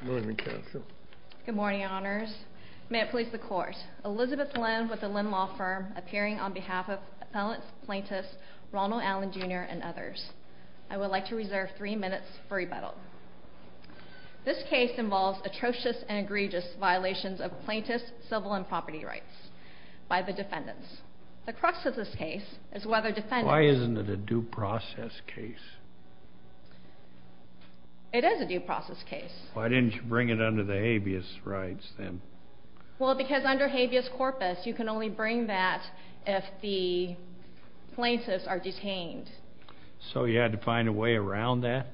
Good morning, Counsel. Good morning, Honors. May it please the Court, Elizabeth Lin, with the Lin Law Firm, appearing on behalf of Appellants, Plaintiffs, Ronald Allen, Jr., and others. I would like to reserve three minutes for rebuttal. This case involves atrocious and egregious violations of plaintiffs' civil and property rights by the defendants. The defendant is not guilty. This is a due process case. It is a due process case. Why didn't you bring it under the habeas rights then? Well, because under habeas corpus, you can only bring that if the plaintiffs are detained. So you had to find a way around that?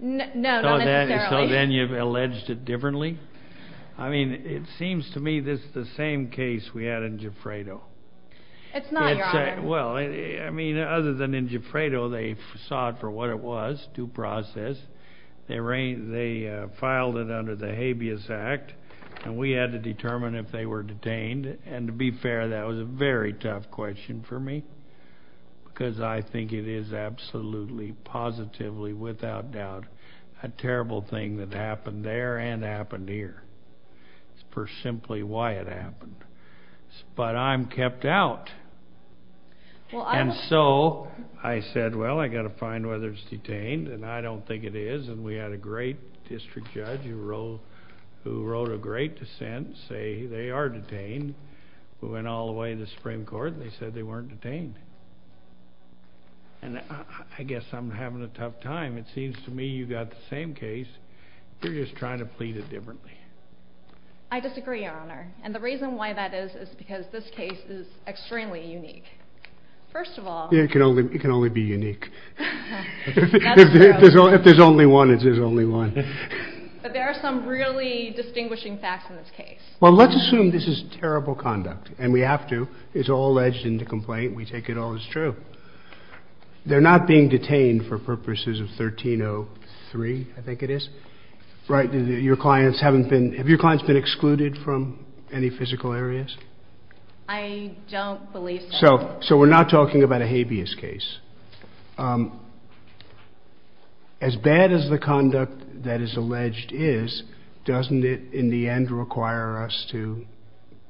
No, not necessarily. So then you've alleged it differently? I mean, it seems to me this is the same case we had in Gifredo. It's not, Your Honor. Well, I mean, other than in Gifredo, they saw it for what it was, due process. They filed it under the Habeas Act, and we had to determine if they were detained. And to be fair, that was a very tough question for me, because I think it is absolutely, positively, without doubt, a terrible thing that happened there and happened here, for simply why it happened. But I'm kept out. And so I said, well, I've got to find whether it's detained, and I don't think it is. And we had a great district judge who wrote a great dissent, say they are detained. We went all the way to the Supreme Court, and they said they weren't detained. And I guess I'm having a tough time. It seems to me you've got the same case. You're just trying to plead it differently. I disagree, Your Honor. And the reason why that is is because this case is extremely unique. First of all... It can only be unique. That's true. If there's only one, it is only one. But there are some really distinguishing facts in this case. Well, let's assume this is terrible conduct, and we have to. It's all alleged in the complaint. We take it all as true. They're not being detained for purposes of 1303, I think it is, right? Your clients haven't been... Have your clients been excluded from any physical areas? I don't believe so. So we're not talking about a habeas case. As bad as the conduct that is alleged is, doesn't it in the end require us to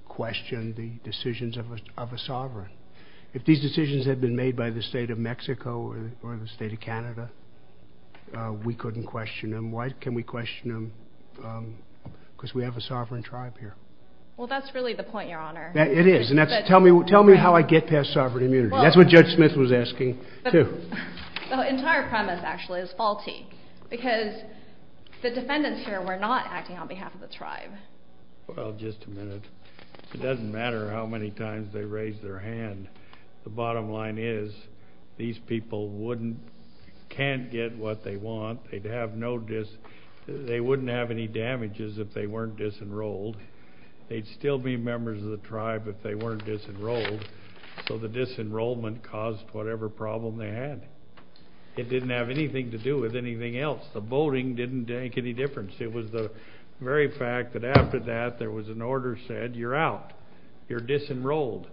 question the decisions of a sovereign? If these decisions had been made by the state of Mexico or the state of Canada, we couldn't question them. Why can't we question them? Because we have a sovereign tribe here. Well, that's really the point, Your Honor. It is. Tell me how I get past sovereign immunity. That's what the defendants here were not acting on behalf of the tribe. Well, just a minute. It doesn't matter how many times they raised their hand. The bottom line is, these people can't get what they want. They wouldn't have any damages if they weren't disenrolled. They'd still be members of the tribe if they weren't disenrolled. So the disenrollment caused whatever problem they had. It didn't have anything to do with anything else. The voting didn't make any difference. It was the very fact that after that, there was an order said, you're out. You're disenrolled.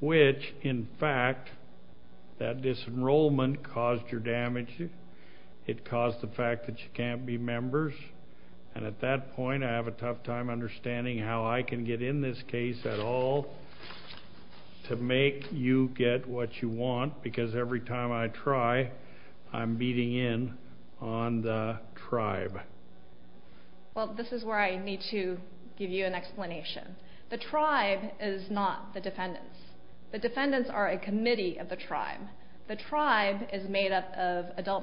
Which, in fact, that disenrollment caused your damages. It caused the fact that you can't be members. And at that point, I have a tough time understanding how I can get in this case at all to make you get what you want. Because every time I try, I'm beating in on the tribe. Well, this is where I need to give you an explanation. The tribe is not the defendants. The defendants are a committee of the tribe. The tribe is made up of adult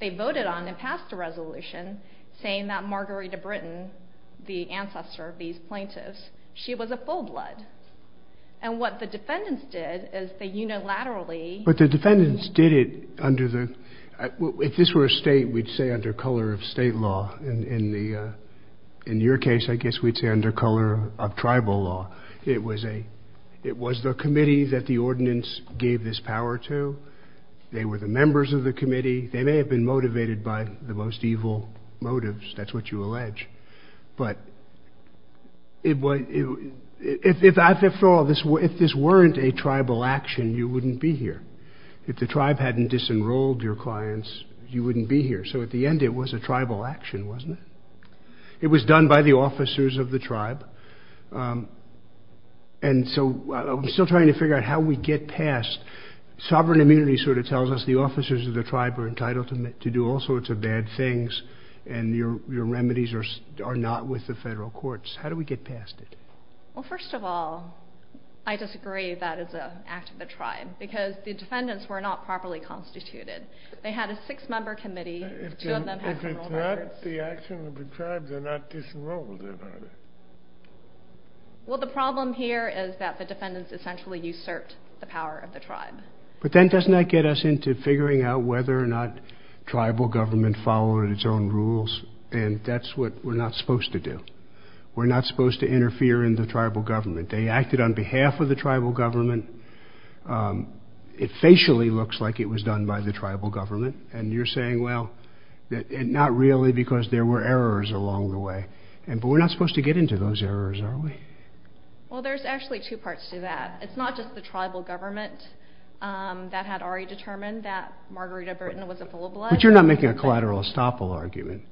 They voted on and passed a resolution saying that Marguerite of Britain, the ancestor of these plaintiffs, she was of full blood. And what the defendants did is they unilaterally But the defendants did it under the, if this were a state, we'd say under color of state law. In your case, I guess we'd say under color of tribal law. It was the committee that the ordinance gave this power to. They were the members of the committee. They may have been motivated by the most evil motives. That's what you allege. But if after all, if this weren't a tribal action, you wouldn't be here. If the tribe hadn't disenrolled your clients, you wouldn't be here. So at the end, it was a tribal action, wasn't it? It was done by the officers of the tribe. And so I'm still trying to figure out how we get past. Sovereign immunity sort of tells us the officers of the tribe are entitled to do all sorts of bad things. And your remedies are not with the federal courts. How do we get past it? Well, first of all, I disagree that is an act of the tribe, because the defendants were not properly constituted. They had a six member committee. If it's not the action of the tribe, they're not disenrolled. Well, the problem here is that the defendants essentially usurped the power of the tribe. But then doesn't that get us into figuring out whether or not tribal government followed its own rules? And that's what we're not supposed to do. We're not supposed to interfere in the tribal government. They acted on behalf of the tribal government. It facially looks like it was done by the tribal government. And you're saying, well, not really, because there were errors along the way. But we're not supposed to get into those errors, are we? Well, there's actually two parts to that. It's not just the tribal government that had already determined that Margarita Burton was a full of blood. But you're not making a collateral estoppel argument.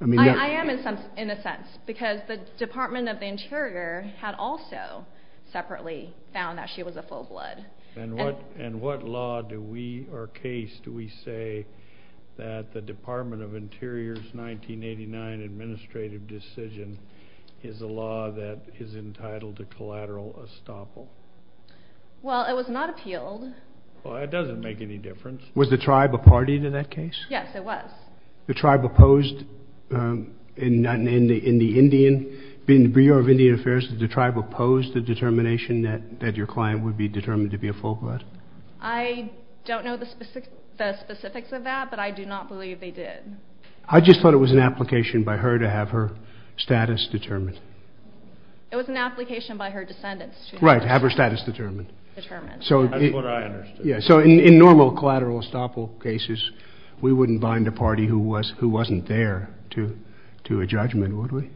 I am in a sense, because the Department of the Interior had also separately found that she was a full of blood. And what law do we, or case do we say that the Department of Interior's 1989 administrative decision is a law that is entitled to collateral estoppel? Well, it was not appealed. Well, that doesn't make any difference. Was the tribe a party to that case? Yes, it was. The tribe opposed, in the Indian, in the Bureau of Indian Affairs, did the tribe oppose the determination that your client would be determined to be a full blood? I don't know the specifics of that, but I do not believe they did. I just thought it was an application by her to have her status determined. It was an application by her descendants to have her status determined. That's what I understood. So in normal collateral estoppel cases, we wouldn't bind a party who wasn't there to a judgment, would we?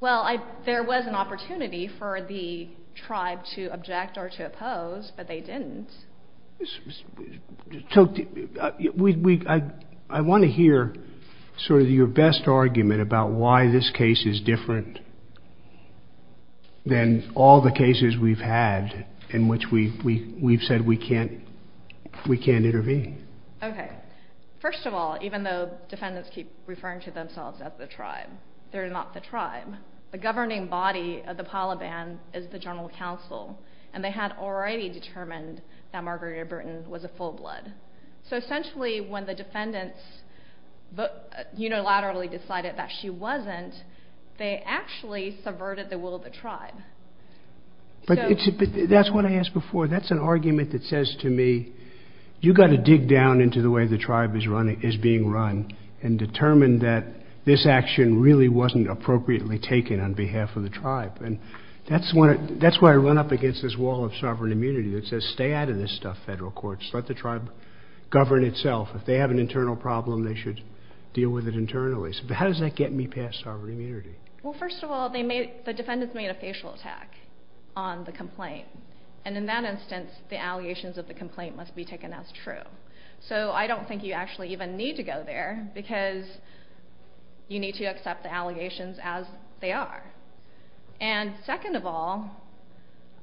Well, there was an opportunity for the tribe to intervene. I want to hear sort of your best argument about why this case is different than all the cases we've had in which we've said we can't intervene. Okay. First of all, even though defendants keep referring to themselves as the tribe, they're not the tribe. The governing body of the Palaban is the General Counsel, and they had already determined that Margarita Burton was a full blood. So essentially, when the defendants unilaterally decided that she wasn't, they actually subverted the will of the tribe. That's what I asked before. That's an argument that says to me, you've got to dig down into the way the tribe is being run and determine that this action really wasn't appropriately taken on behalf of the tribe. And that's why I run up against this wall of sovereign immunity that says, stay out of this stuff, federal courts. Let the tribe govern itself. If they have an internal problem, they should deal with it internally. So how does that get me past sovereign immunity? Well, first of all, the defendants made a facial attack on the complaint. And in that instance, the allegations of the complaint must be taken as true. So I don't think you actually even need to go there, because you need to accept the allegations as they are. And second of all,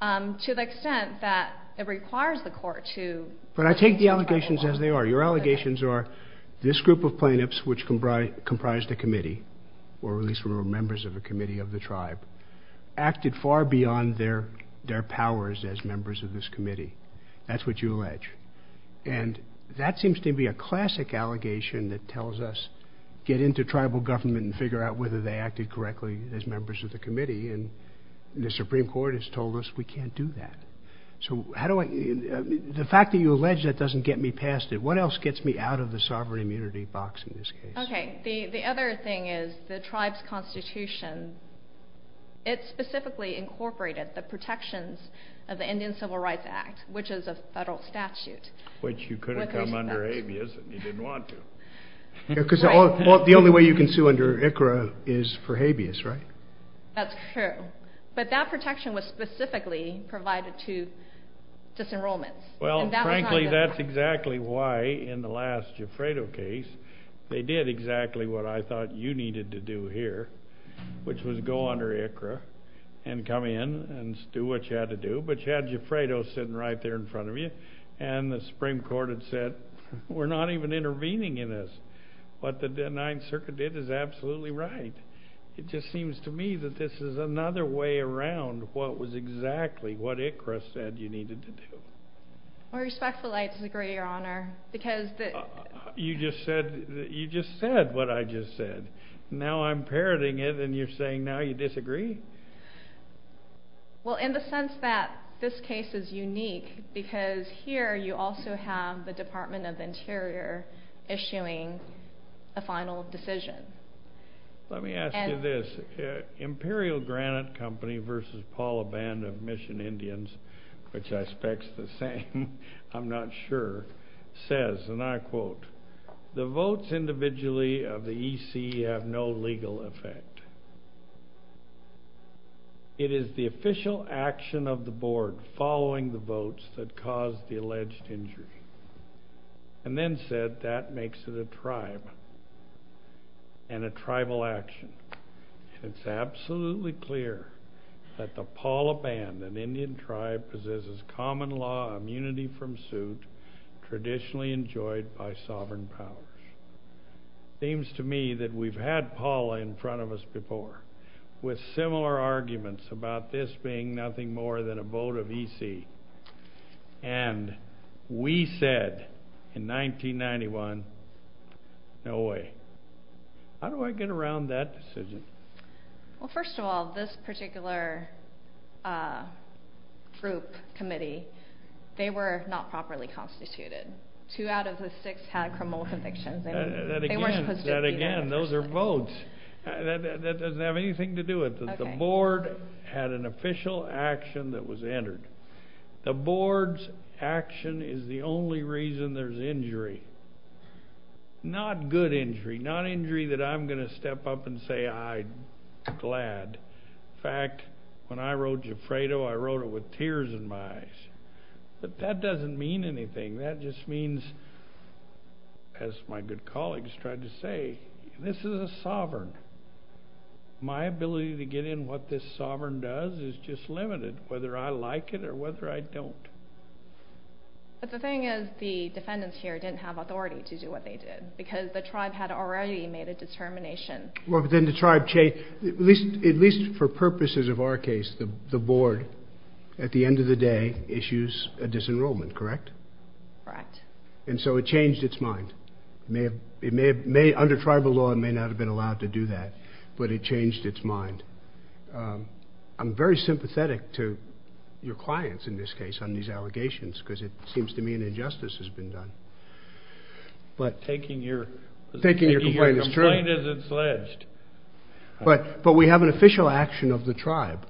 to the extent that it requires the court to... But I take the allegations as they are. Your allegations are, this group of plaintiffs, which comprised a committee, or at least were members of a committee of the tribe, acted far beyond their powers as members of this committee. That's what you allege. And that is a classic allegation that tells us, get into tribal government and figure out whether they acted correctly as members of the committee. And the Supreme Court has told us we can't do that. So how do I... The fact that you allege that doesn't get me past it. What else gets me out of the sovereign immunity box in this case? Okay. The other thing is the tribe's constitution. It specifically incorporated the protections of the Indian Civil Rights Act, which is a federal statute. Which you could have come under habeas, and you didn't want to. Because the only way you can sue under ICRA is for habeas, right? That's true. But that protection was specifically provided to disenrollments. Well, frankly, that's exactly why in the last Gifredo case, they did exactly what I thought you needed to do here, which was go under ICRA and come in and do what you had to do. But you had Gifredo sitting right there in front of you. And the Supreme Court had said, we're not even intervening in this. What the Ninth Circuit did is absolutely right. It just seems to me that this is another way around what was exactly what ICRA said you needed to do. I respectfully disagree, Your Honor, because... You just said what I just said. Now I'm parroting it, and you're saying now you disagree? Well, in the sense that this case is unique, because here you also have the Department of Interior issuing a final decision. Let me ask you this. Imperial Granite Company v. Paula Band of Mission Indians, which I specs the same, I'm not sure, says, and I quote, the votes individually of the EC have no legal effect. It is the official action of the board following the votes that caused the alleged injury. And then said, that makes it a tribe and a tribal action. And it's absolutely clear that the Paula Band, an Indian tribe, possesses common law immunity from suit traditionally enjoyed by sovereign powers. Seems to me that we've had Paula in front of us before with similar arguments about this being nothing more than a vote of EC. And we said in 1991, no way. How do I get around that decision? Well, first of all, this particular group committee, they were not properly constituted two out of the six had criminal convictions. That again, those are votes. That doesn't have anything to do with it. The board had an official action that was entered. The board's action is the only reason there's injury. Not good injury, not injury that I'm going to step up and say I'm glad. In fact, when I wrote Gifredo, I wrote it with tears in my eyes. But that doesn't mean anything. That just means, as my good colleagues tried to say, this is a sovereign. My ability to get in what this sovereign does is just limited, whether I like it or whether I don't. But the thing is, the defendants here didn't have authority to do what they did because the tribe had already made a determination. Well, but then the tribe changed. At least for purposes of our case, the board, at the end of the day, issues a disenrollment, correct? Correct. And so it changed its mind. It may have, under tribal law, it may not have been allowed to do that, but it changed its mind. I'm very sympathetic to your clients in this case on these allegations because it seems to me an injustice has been done. But taking your complaint is true. But we have an official action of the tribe.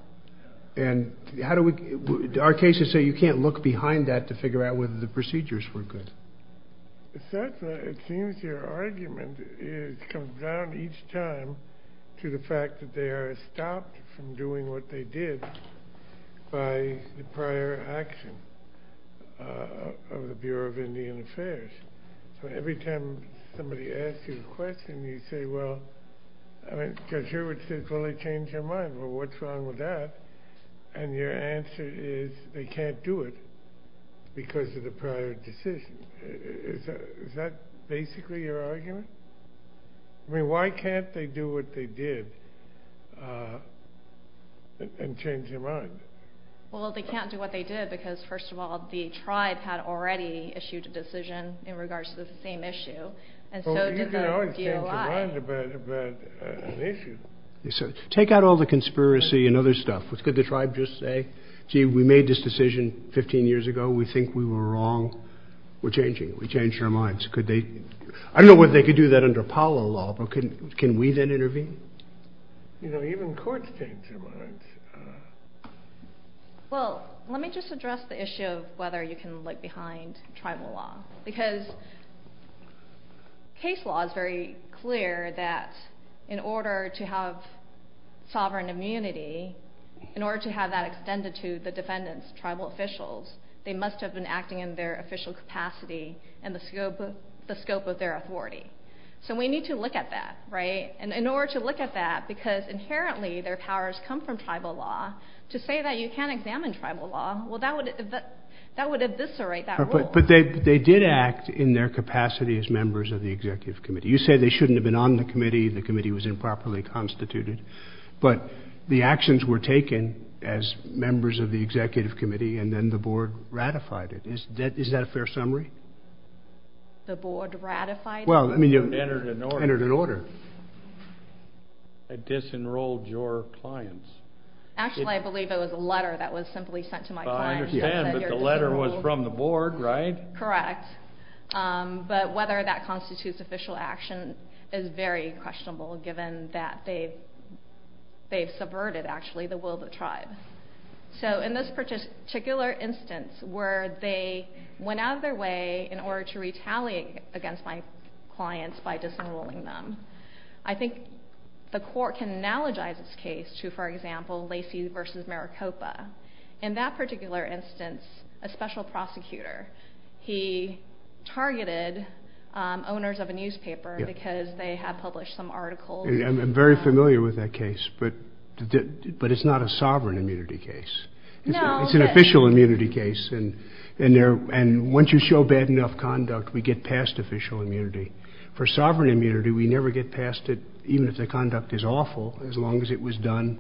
And how do we, our cases say you can't look behind that to figure out whether the procedures were good. It seems your argument comes down each time to the fact that they are stopped from doing what they did by the prior action of the Bureau of Indian Affairs. So every time somebody asks you a question, you say, well, I mean, Judge Hurwitz says, well, they changed their mind. Well, what's wrong with that? And your answer is they can't do it because of the prior decision. Is that basically your argument? I mean, why can't they do what they did and change their mind? Well, they can't do what they did because, first of all, the tribe had already issued a decision in regards to the same issue. And so did the DOI. Take out all the conspiracy and other stuff. Could the tribe just say, gee, we made this decision 15 years ago. We think we were wrong. We're changing it. We changed our minds. Could they, I don't know whether they could do that under Apollo law, but can we then intervene? Well, let me just address the issue of whether you can look behind tribal law. Because case law is very clear that in order to have sovereign immunity, in order to have that extended to the defendants, tribal officials, they must have been acting in their official capacity and the scope of their authority. So we need to look at that. And in order to look at that, because inherently their powers come from tribal law, to say that you can't examine tribal law, well, that would eviscerate that rule. But they did act in their capacity as members of the executive committee. You say they shouldn't have been on the committee. The committee was improperly constituted. But the actions were taken as members of the executive committee, and then the board ratified it. Is that a fair summary? The board ratified it? Well, I mean, it entered an order. It disenrolled your clients. Actually, I believe it was a letter that was simply sent to my client. I understand, but the letter was from the board, right? Correct. But whether that constitutes official action is very questionable, given that they've subverted, actually, the will of the tribe. So in this particular instance, where they went out of their way in order to retaliate against my clients by disenrolling them, I think the court can analogize this case to, for example, Lacey v. Maricopa. In that particular instance, a special prosecutor, he targeted owners of a newspaper because they had published some articles. I'm very familiar with that case, but it's not a sovereign immunity case. It's an official immunity case, and once you show bad enough conduct, we get past official immunity. For sovereign immunity, we never get past it, even if the conduct is awful, as long as it was done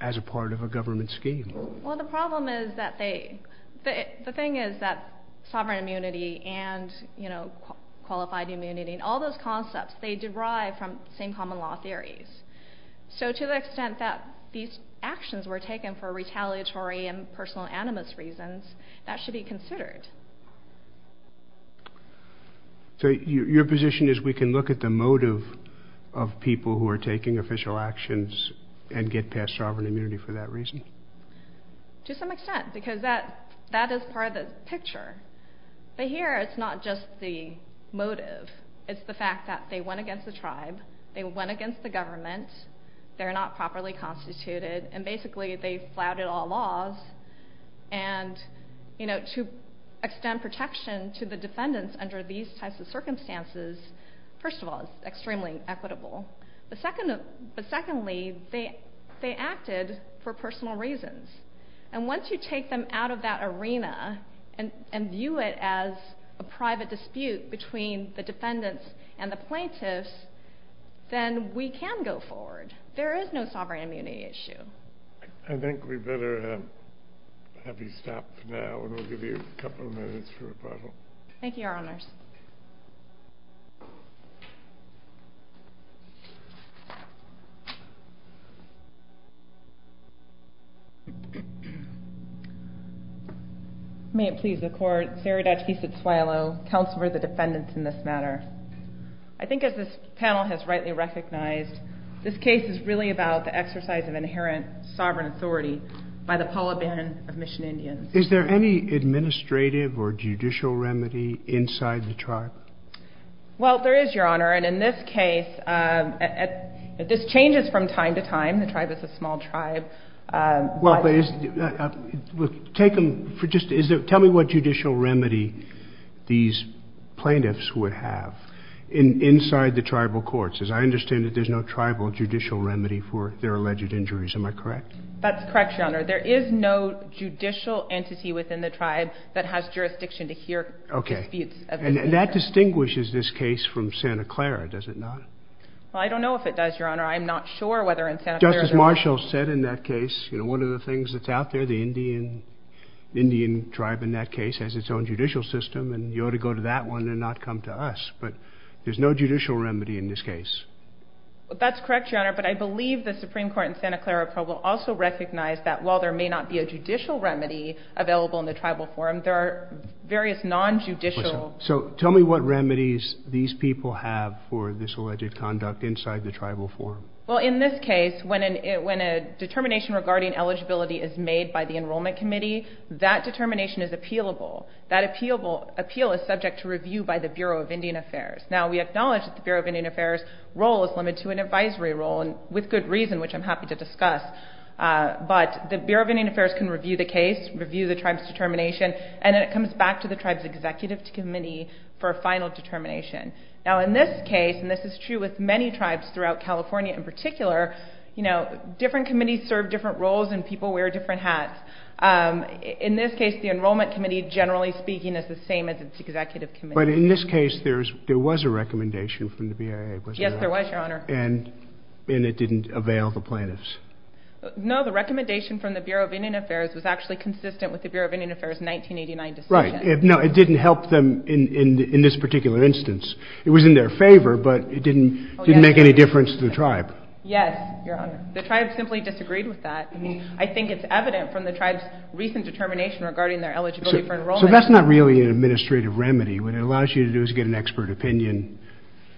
as a part of a government scheme. Well, the problem is that they... The thing is that sovereign immunity and qualified immunity, all those concepts, they derive from the same common law theories. So to the extent that these actions were taken for retaliatory and personal animus reasons, that should be considered. Your position is we can look at the motive of people who are taking official actions and get past sovereign immunity for that reason? To some extent, because that is part of the picture. But here, it's not just the motive. It's the fact that they went against the tribe. They went against the government. They're not properly constituted, and basically, they flouted all laws. And to extend protection to the defendants under these types of circumstances, first of all, is extremely equitable. But secondly, they acted for personal reasons. And once you take them out of that arena and view it as a private dispute between the defendants and the plaintiffs, then we can go forward. There is no sovereign immunity issue. I think we better have you stop for now, and we'll give you a couple of minutes for rebuttal. Thank you, Your Honors. May it please the Court, Sarah Dutch v. Suelo, Counselor of the Defendants in this matter. I think as this panel has rightly recognized, this case is really about the exercise of inherent sovereign authority by the Palaban of Mission Indians. Is there any administrative or judicial remedy inside the tribe? Well, there is, Your Honor. And in this case, this changes from time to time. The tribe is a small tribe. Tell me what judicial remedy these plaintiffs would have inside the tribal courts. As I understand it, there's no tribal judicial remedy for their alleged injuries. Am I correct? That's correct, Your Honor. There is no judicial entity within the tribe that has jurisdiction to hear disputes of this nature. And that distinguishes this case from Santa Clara, does it not? Well, I don't know if it does, Your Honor. I'm not sure whether in Santa Clara... Justice Marshall said in that case, you know, one of the things that's out there, the Indian tribe in that case has its own judicial system, and you ought to go to that one and not come to us. But there's no judicial remedy in this case. That's correct, Your Honor. But I believe the Supreme Court in Santa Clara will also recognize that while there may not be a judicial remedy available in the tribal forum, there are various non-judicial... So tell me what remedies these people have for this alleged conduct inside the tribal forum. Well, in this case, when a determination regarding eligibility is made by the Enrollment Committee, that determination is appealable. That appeal is subject to review by the Bureau of Indian Affairs. The role is limited to an advisory role, and with good reason, which I'm happy to discuss. But the Bureau of Indian Affairs can review the case, review the tribe's determination, and then it comes back to the tribe's Executive Committee for a final determination. Now, in this case, and this is true with many tribes throughout California in particular, you know, different committees serve different roles and people wear different hats. In this case, the Enrollment Committee, generally speaking, is the same as its Executive Committee. But in this case, there was a recommendation from the BIA, wasn't there? Yes, there was, Your Honor. And it didn't avail the plaintiffs? No, the recommendation from the Bureau of Indian Affairs was actually consistent with the Bureau of Indian Affairs' 1989 decision. Right. No, it didn't help them in this particular instance. It was in their favor, but it didn't make any difference to the tribe. Yes, Your Honor. The tribe simply disagreed with that. I mean, I think it's evident from the tribe's recent determination regarding their eligibility for enrollment. So that's not really an administrative remedy. What it allows you to do is get an expert opinion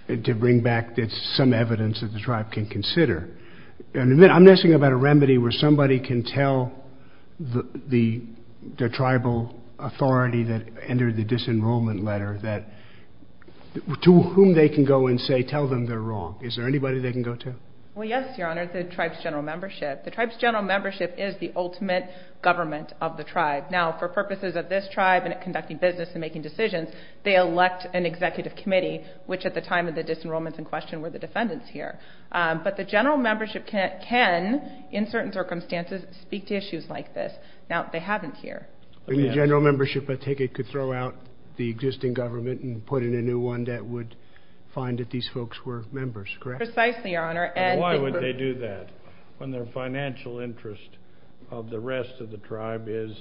to bring back some evidence that the tribe can consider. And I'm asking about a remedy where somebody can tell the tribal authority that entered the disenrollment letter that to whom they can go and say, tell them they're wrong. Is there anybody they can go to? Well, yes, Your Honor, the tribe's general membership. The tribe's general membership is the ultimate government of the tribe. Now, for purposes of this tribe and conducting business and making decisions, they elect an executive committee, which at the time of the disenrollment in question were the defendants here. But the general membership can, in certain circumstances, speak to issues like this. Now, they haven't here. In the general membership, a ticket could throw out the existing government and put in a new one that would find that these folks were members, correct? Precisely, Your Honor. And why would they do that when their financial interest of the rest of the tribe is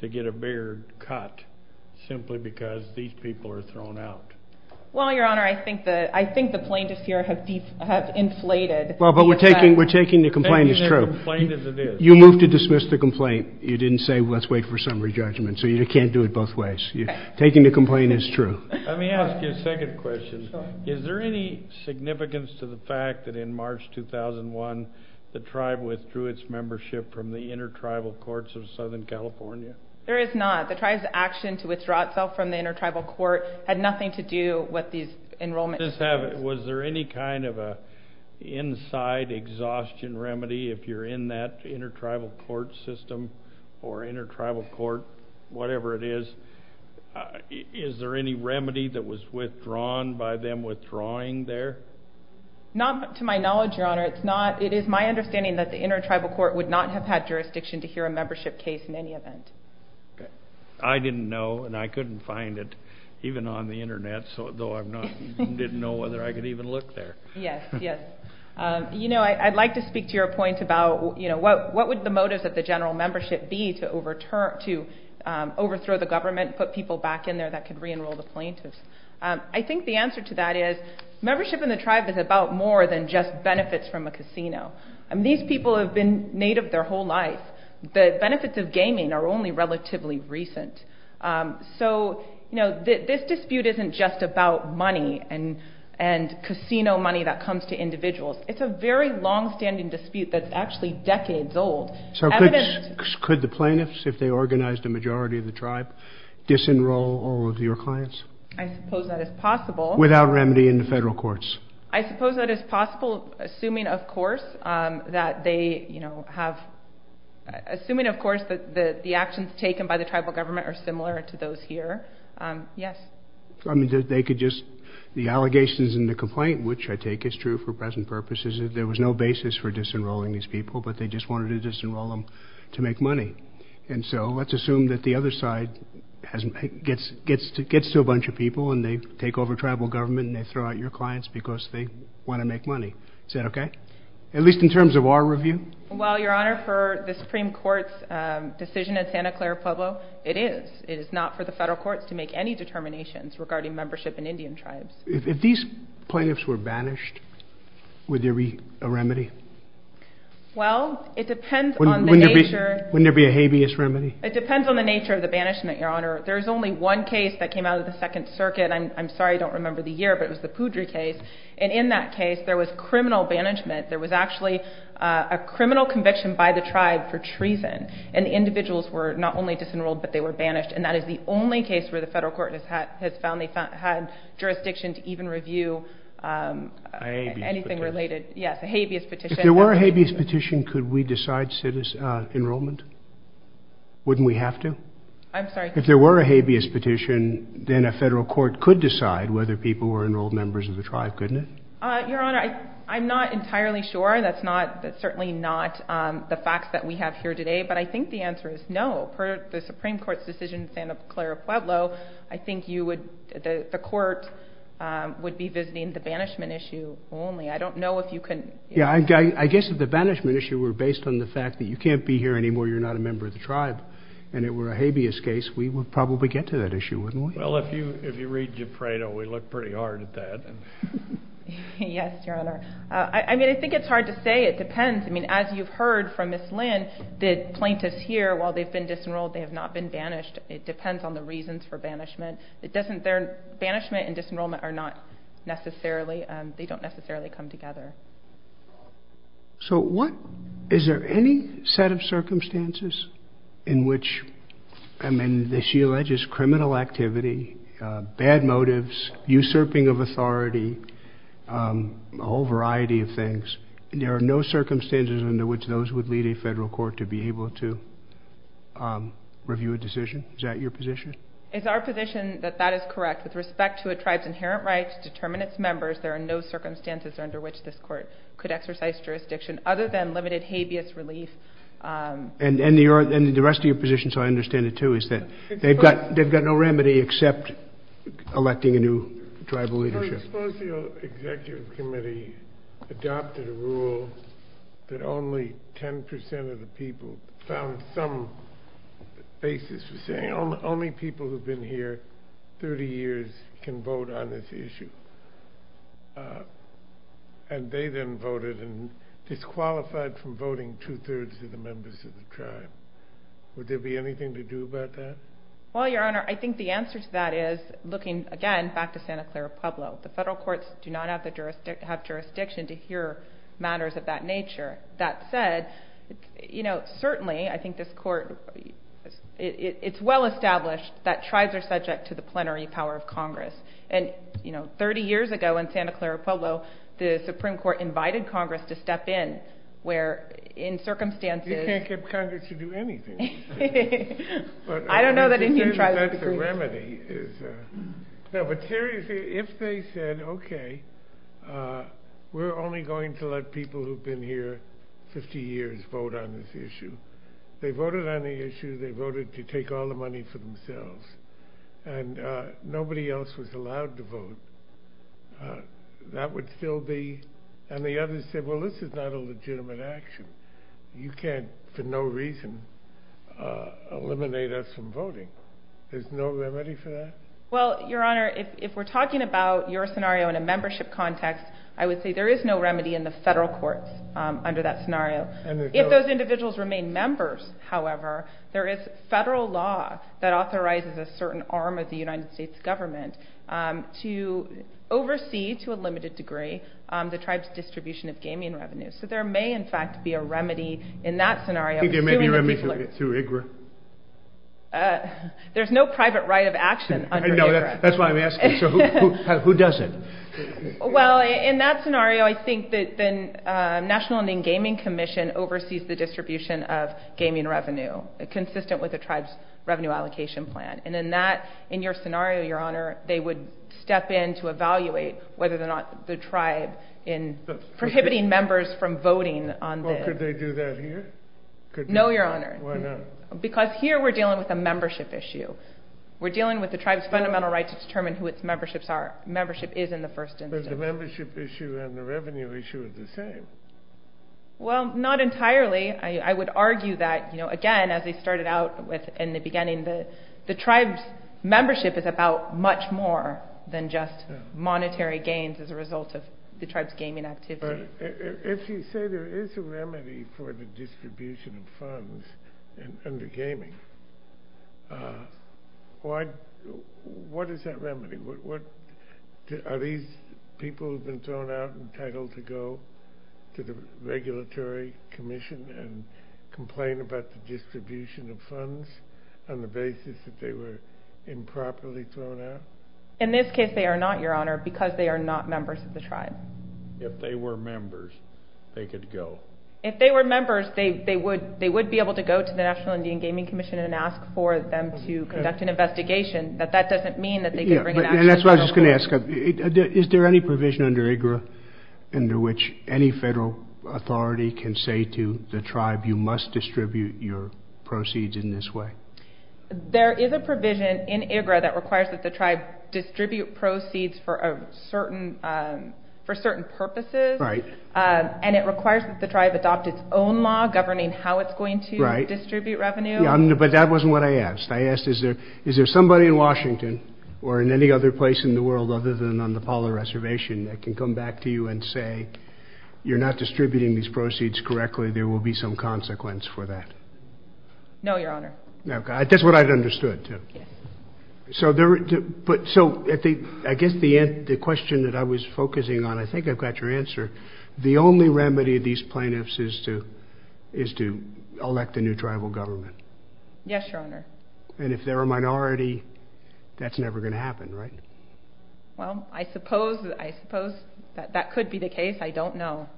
to get a bigger cut simply because these people are thrown out? Well, Your Honor, I think the plaintiffs here have inflated. Well, but we're taking the complaint as true. Taking their complaint as it is. You moved to dismiss the complaint. You didn't say, let's wait for summary judgment. So you can't do it both ways. Taking the complaint is true. Let me ask you a second question. Is there any significance to the fact that in March 2001, the tribe withdrew its membership from the intertribal courts of Southern California? There is not. The tribe's action to withdraw itself from the intertribal court had nothing to do with these enrollment decisions. Was there any kind of an inside exhaustion remedy if you're in that intertribal court system or intertribal court, whatever it is, is there any remedy that was withdrawn by them withdrawing there? Not to my knowledge, Your Honor. It is my understanding that the intertribal court would not have had jurisdiction to hear a membership case in any event. I didn't know, and I couldn't find it even on the Internet, though I didn't know whether I could even look there. Yes, yes. You know, I'd like to speak to your point about, you know, what would the motives of the general membership be to overthrow the government, put people back in there that could re-enroll the plaintiffs? I think the answer to that is membership in the tribe is about more than just benefits from a casino. I mean, these people have been native their whole life. The benefits of gaming are only relatively recent. So, you know, this dispute isn't just about money and casino money that comes to individuals. It's a very longstanding dispute that's actually decades old. So could the plaintiffs, if they organized a majority of the tribe, disenroll all of your clients? I suppose that is possible. Without remedy in the federal courts? I suppose that is possible, assuming, of course, that they, you know, have, assuming, of course, that the actions taken by the tribal government are similar to those here. Yes. I mean, they could just, the allegations in the complaint, which I take is true for present purposes, is there was no basis for disenrolling these people, but they just wanted to disenroll them to make money. And so let's assume that the other side gets to a bunch of people and they take over tribal government and they throw out your clients because they want to make money. Is that okay? At least in terms of our review? Well, Your Honor, for the Supreme Court's decision at Santa Clara Pueblo, it is. It is not for the federal courts to make any determinations regarding membership in Indian tribes. If these plaintiffs were banished, would there be a remedy? Well, it depends on the nature. Wouldn't there be a habeas remedy? It depends on the nature of the banishment, Your Honor. There's only one case that came out of the Second Circuit. I'm sorry, I don't remember the year, but it was the Poudre case. And in that case, there was criminal banishment. There was actually a criminal conviction by the tribe for treason. And the individuals were not only disenrolled, but they were banished. And that is the only case where the federal court has found they had jurisdiction to even review anything related. A habeas petition. Yes, a habeas petition. If there were a habeas petition, could we decide enrollment? Wouldn't we have to? I'm sorry? If there were a habeas petition, then a federal court could decide whether people were enrolled as members of the tribe, couldn't it? Your Honor, I'm not entirely sure. That's certainly not the facts that we have here today. But I think the answer is no. Per the Supreme Court's decision in Santa Clara Pueblo, I think the court would be visiting the banishment issue only. I don't know if you can... Yeah, I guess if the banishment issue were based on the fact that you can't be here anymore, you're not a member of the tribe, and it were a habeas case, we would probably get to that issue, wouldn't we? Well, if you read Gepredo, we look pretty hard at that. Yes, Your Honor. I mean, I think it's hard to say. It depends. I mean, as you've heard from Ms. Lynn, the plaintiffs here, while they've been disenrolled, they have not been banished. It depends on the reasons for banishment. Banishment and disenrollment are not necessarily... They don't necessarily come together. So what... Is there any set of circumstances in which... I mean, she alleges criminal activity, bad motives, usurping of authority, a whole variety of things. There are no circumstances under which those would lead a federal court to be able to review a decision? Is that your position? It's our position that that is correct. With respect to a tribe's inherent right to determine its members, there are no circumstances under which this court could exercise jurisdiction other than limited habeas relief. And the rest of your position, so I understand it too, is that they've got no remedy except electing a new tribal leadership. I suppose the Executive Committee adopted a rule that only 10% of the people found some basis for saying, only people who've been here 30 years can vote on this issue. And they then voted and disqualified from voting two-thirds of the members of the tribe. Would there be anything to do about that? Well, Your Honor, I think the answer to that is looking, again, back to Santa Clara Pueblo. The federal courts do not have jurisdiction to hear matters of that nature. That said, you know, certainly I think this court, it's well established that tribes are subject to the plenary power of Congress. And, you know, 30 years ago in Santa Clara Pueblo, the Supreme Court invited Congress to step in, where, in circumstances... You can't get Congress to do anything. I don't know that any tribe would approve it. But seriously, if they said, okay, we're only going to let people who've been here 50 years vote on this issue. They voted on the issue. They voted to take all the money for themselves. And nobody else was allowed to vote. That would still be... And the others said, well, this is not a legitimate action. You can't, for no reason, eliminate us from voting. There's no remedy for that? Well, Your Honor, if we're talking about your scenario in a membership context, I would say there is no remedy in the federal courts under that scenario. If those individuals remain members, however, there is federal law that authorizes a certain arm of the United States government to oversee, to a limited degree, the tribe's distribution of gaming revenues. So there may, in fact, be a remedy in that scenario. Do you think there may be a remedy through IGRA? There's no private right of action under IGRA. I know. That's why I'm asking. So who does it? Well, in that scenario, I think the National Ending Gaming Commission oversees the distribution of gaming revenue, consistent with the tribe's revenue allocation plan. And in that, in your scenario, Your Honor, they would step in to evaluate whether or not the tribe, in prohibiting members from voting on this... Well, could they do that here? No, Your Honor. Why not? Because here we're dealing with a membership issue. We're dealing with the tribe's fundamental right to determine who its memberships are. Membership is in the first instance. But the membership issue and the revenue issue are the same. Well, not entirely. I would argue that, again, as I started out with in the beginning, the tribe's membership is about much more than just monetary gains as a result of the tribe's gaming activity. But if you say there is a remedy for the distribution of funds under gaming, what is that remedy? Are these people who've been thrown out and titled to go to the regulatory commission and complain about the distribution of funds on the basis that they were improperly thrown out? In this case, they are not, Your Honor, because they are not members of the tribe. If they were members, they could go? If they were members, they would be able to go to the National Indian Gaming Commission and ask for them to conduct an investigation. But that doesn't mean that they could bring an action... And that's what I was going to ask. Is there any provision under IGRA under which any federal authority can say to the tribe, you must distribute your proceeds in this way? There is a provision in IGRA that requires that the tribe distribute proceeds for a certain purposes. Right. And it requires that the tribe adopt its own law governing how it's going to distribute revenue. Right. But that wasn't what I asked. I asked, is there somebody in Washington or in any other place in the world other than on the Apollo Reservation that can come back to you and say, you're not distributing these proceeds correctly, there will be some consequence for that? No, Your Honor. That's what I'd understood, too. Yes. So I guess the question that I was focusing on, I think I've got your answer. The only remedy of these plaintiffs is to elect a new tribal government. Yes, Your Honor. And if they're a minority, that's never going to happen, right? Well, I suppose that could be the case. I don't know.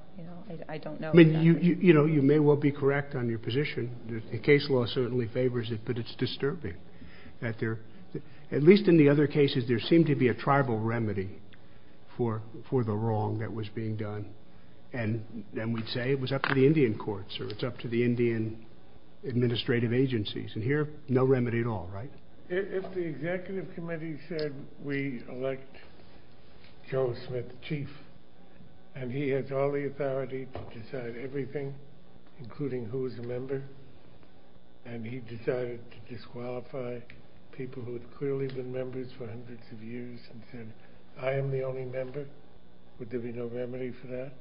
I mean, you may well be correct on your position. The case law certainly favors it, but it's at least in the other cases there seemed to be a tribal remedy for the wrong that was being done. And then we'd say it was up to the Indian courts or it's up to the Indian administrative agencies. And here, no remedy at all, right? If the executive committee said we elect Joe Smith chief and he has all the authority to decide everything, including who is a member, and he decided to disqualify people who had clearly been members for hundreds of years and said, I am the only member, would there be no remedy for that?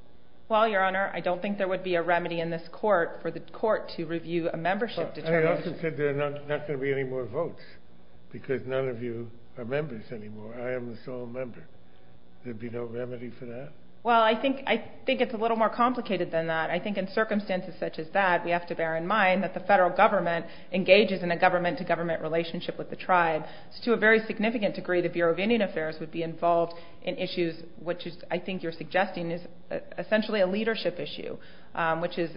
Well, Your Honor, I don't think there would be a remedy in this court for the court to review a membership determination. But you also said there are not going to be any more votes because none of you are members anymore. I am the sole member. There'd be no remedy for that? Well, I think it's a little more complicated than that. I think in circumstances such as that, we have to bear in mind that the federal government engages in a government-to-government relationship with the tribe. So to a very significant degree, the Bureau of Indian Affairs would be involved in issues, which I think you're suggesting is essentially a leadership issue, which is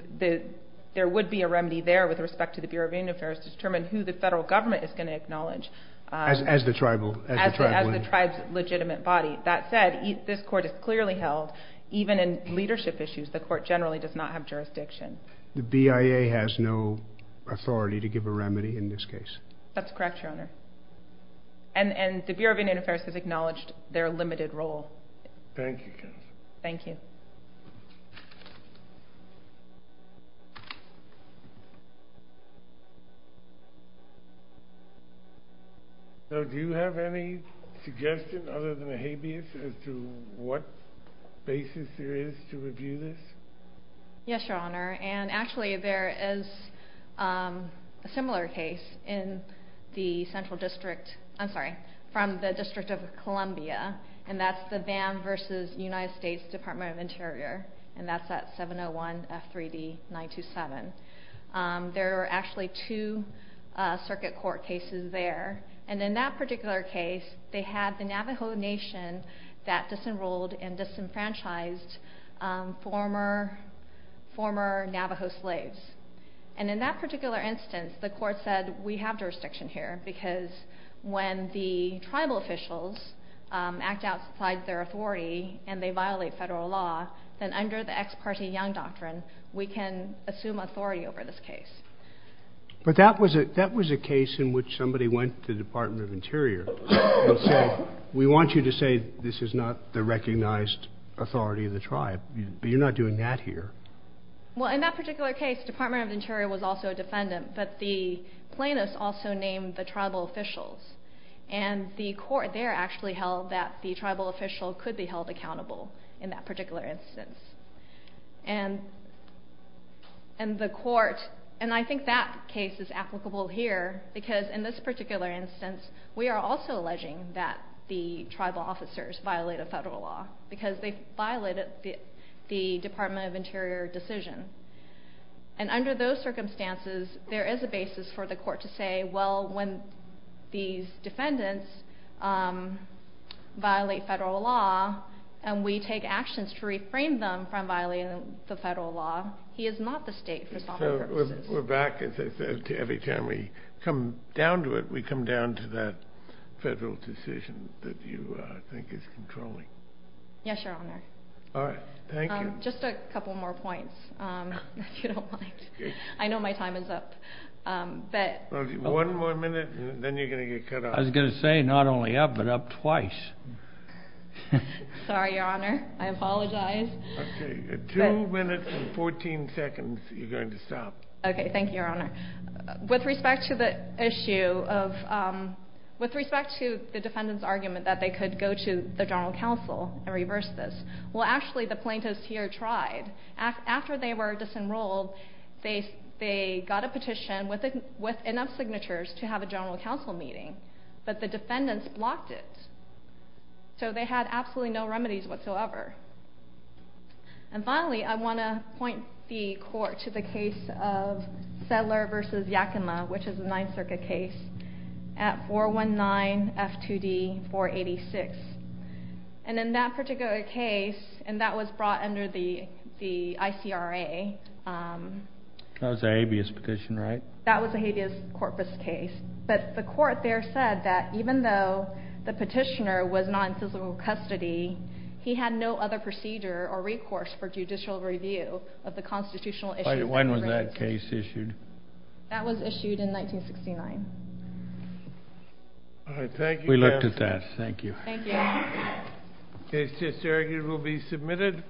there would be a remedy there with respect to the Bureau of Indian Affairs to determine who the federal government is going to acknowledge. As the tribal? As the tribe's legitimate body. That said, this court is clearly held, even in leadership issues, the court generally does not have jurisdiction. The BIA has no authority to give a remedy in this case? That's correct, Your Honor. And the Bureau of Indian Affairs has acknowledged their limited role. Thank you. Thank you. So do you have any suggestion, other than a habeas, as to what basis there is to review this? Yes, Your Honor. And actually, there is a similar case in the Central District, I'm sorry, from the District of Columbia, and that's the VAM versus United States Department of Interior, and that's at 701 F3D 927. There are actually two circuit court cases there, and in that particular case, they had the Navajo Nation that disenrolled and disenfranchised former Navajo slaves. And in that particular instance, the court said, we have jurisdiction here, because when the tribal officials act outside their authority, and they violate federal law, then under the ex parte Young Doctrine, we can assume authority over this case. But that was a case in which somebody went to the Department of Interior and said, we want you to say this is not the recognized authority of the tribe, but you're not doing that here. Well, in that particular case, the Department of Interior was also a defendant, but the plaintiffs also named the tribal officials, and the court there actually held that the tribal official could be held accountable in that particular instance. And the court, and I think that case is applicable here, because in this particular instance, we are also alleging that the tribal officers violate a federal law, because they violated the Department of Interior decision. And under those circumstances, there is a basis for the court to say, well, when these defendants violate federal law, and we take actions to reframe them from violating the federal law, he is not the state for sovereign purposes. We're back, as I said, every time we come down to it, we come down to that federal decision that you think is controlling. Yes, Your Honor. All right. Thank you. Just a couple more points, if you don't mind. I know my time is up. One more minute, and then you're going to get cut off. I was going to say, not only up, but up twice. Sorry, Your Honor. I apologize. Okay. Two minutes and 14 seconds, you're going to stop. Okay. Thank you, Your Honor. With respect to the defendant's argument that they could go to the General Counsel and reverse this, well, actually, the plaintiffs here tried. After they were disenrolled, they got a petition with enough signatures to have a General Counsel meeting, but the defendants blocked it. So they had absolutely no remedies whatsoever. And finally, I want to point the court to the case of Sedler v. Yakima, which is a Ninth Circuit case at 419 F2D 486. And in that particular case, and that was brought under the ICRA. That was an habeas petition, right? That was a habeas corpus case. But the court there said that even though the petitioner was not in physical custody, he had no other procedure or recourse for judicial review of the constitutional issues. When was that case issued? That was issued in 1969. All right. Thank you. We looked at that. Thank you. Thank you. The case is here. It will be submitted.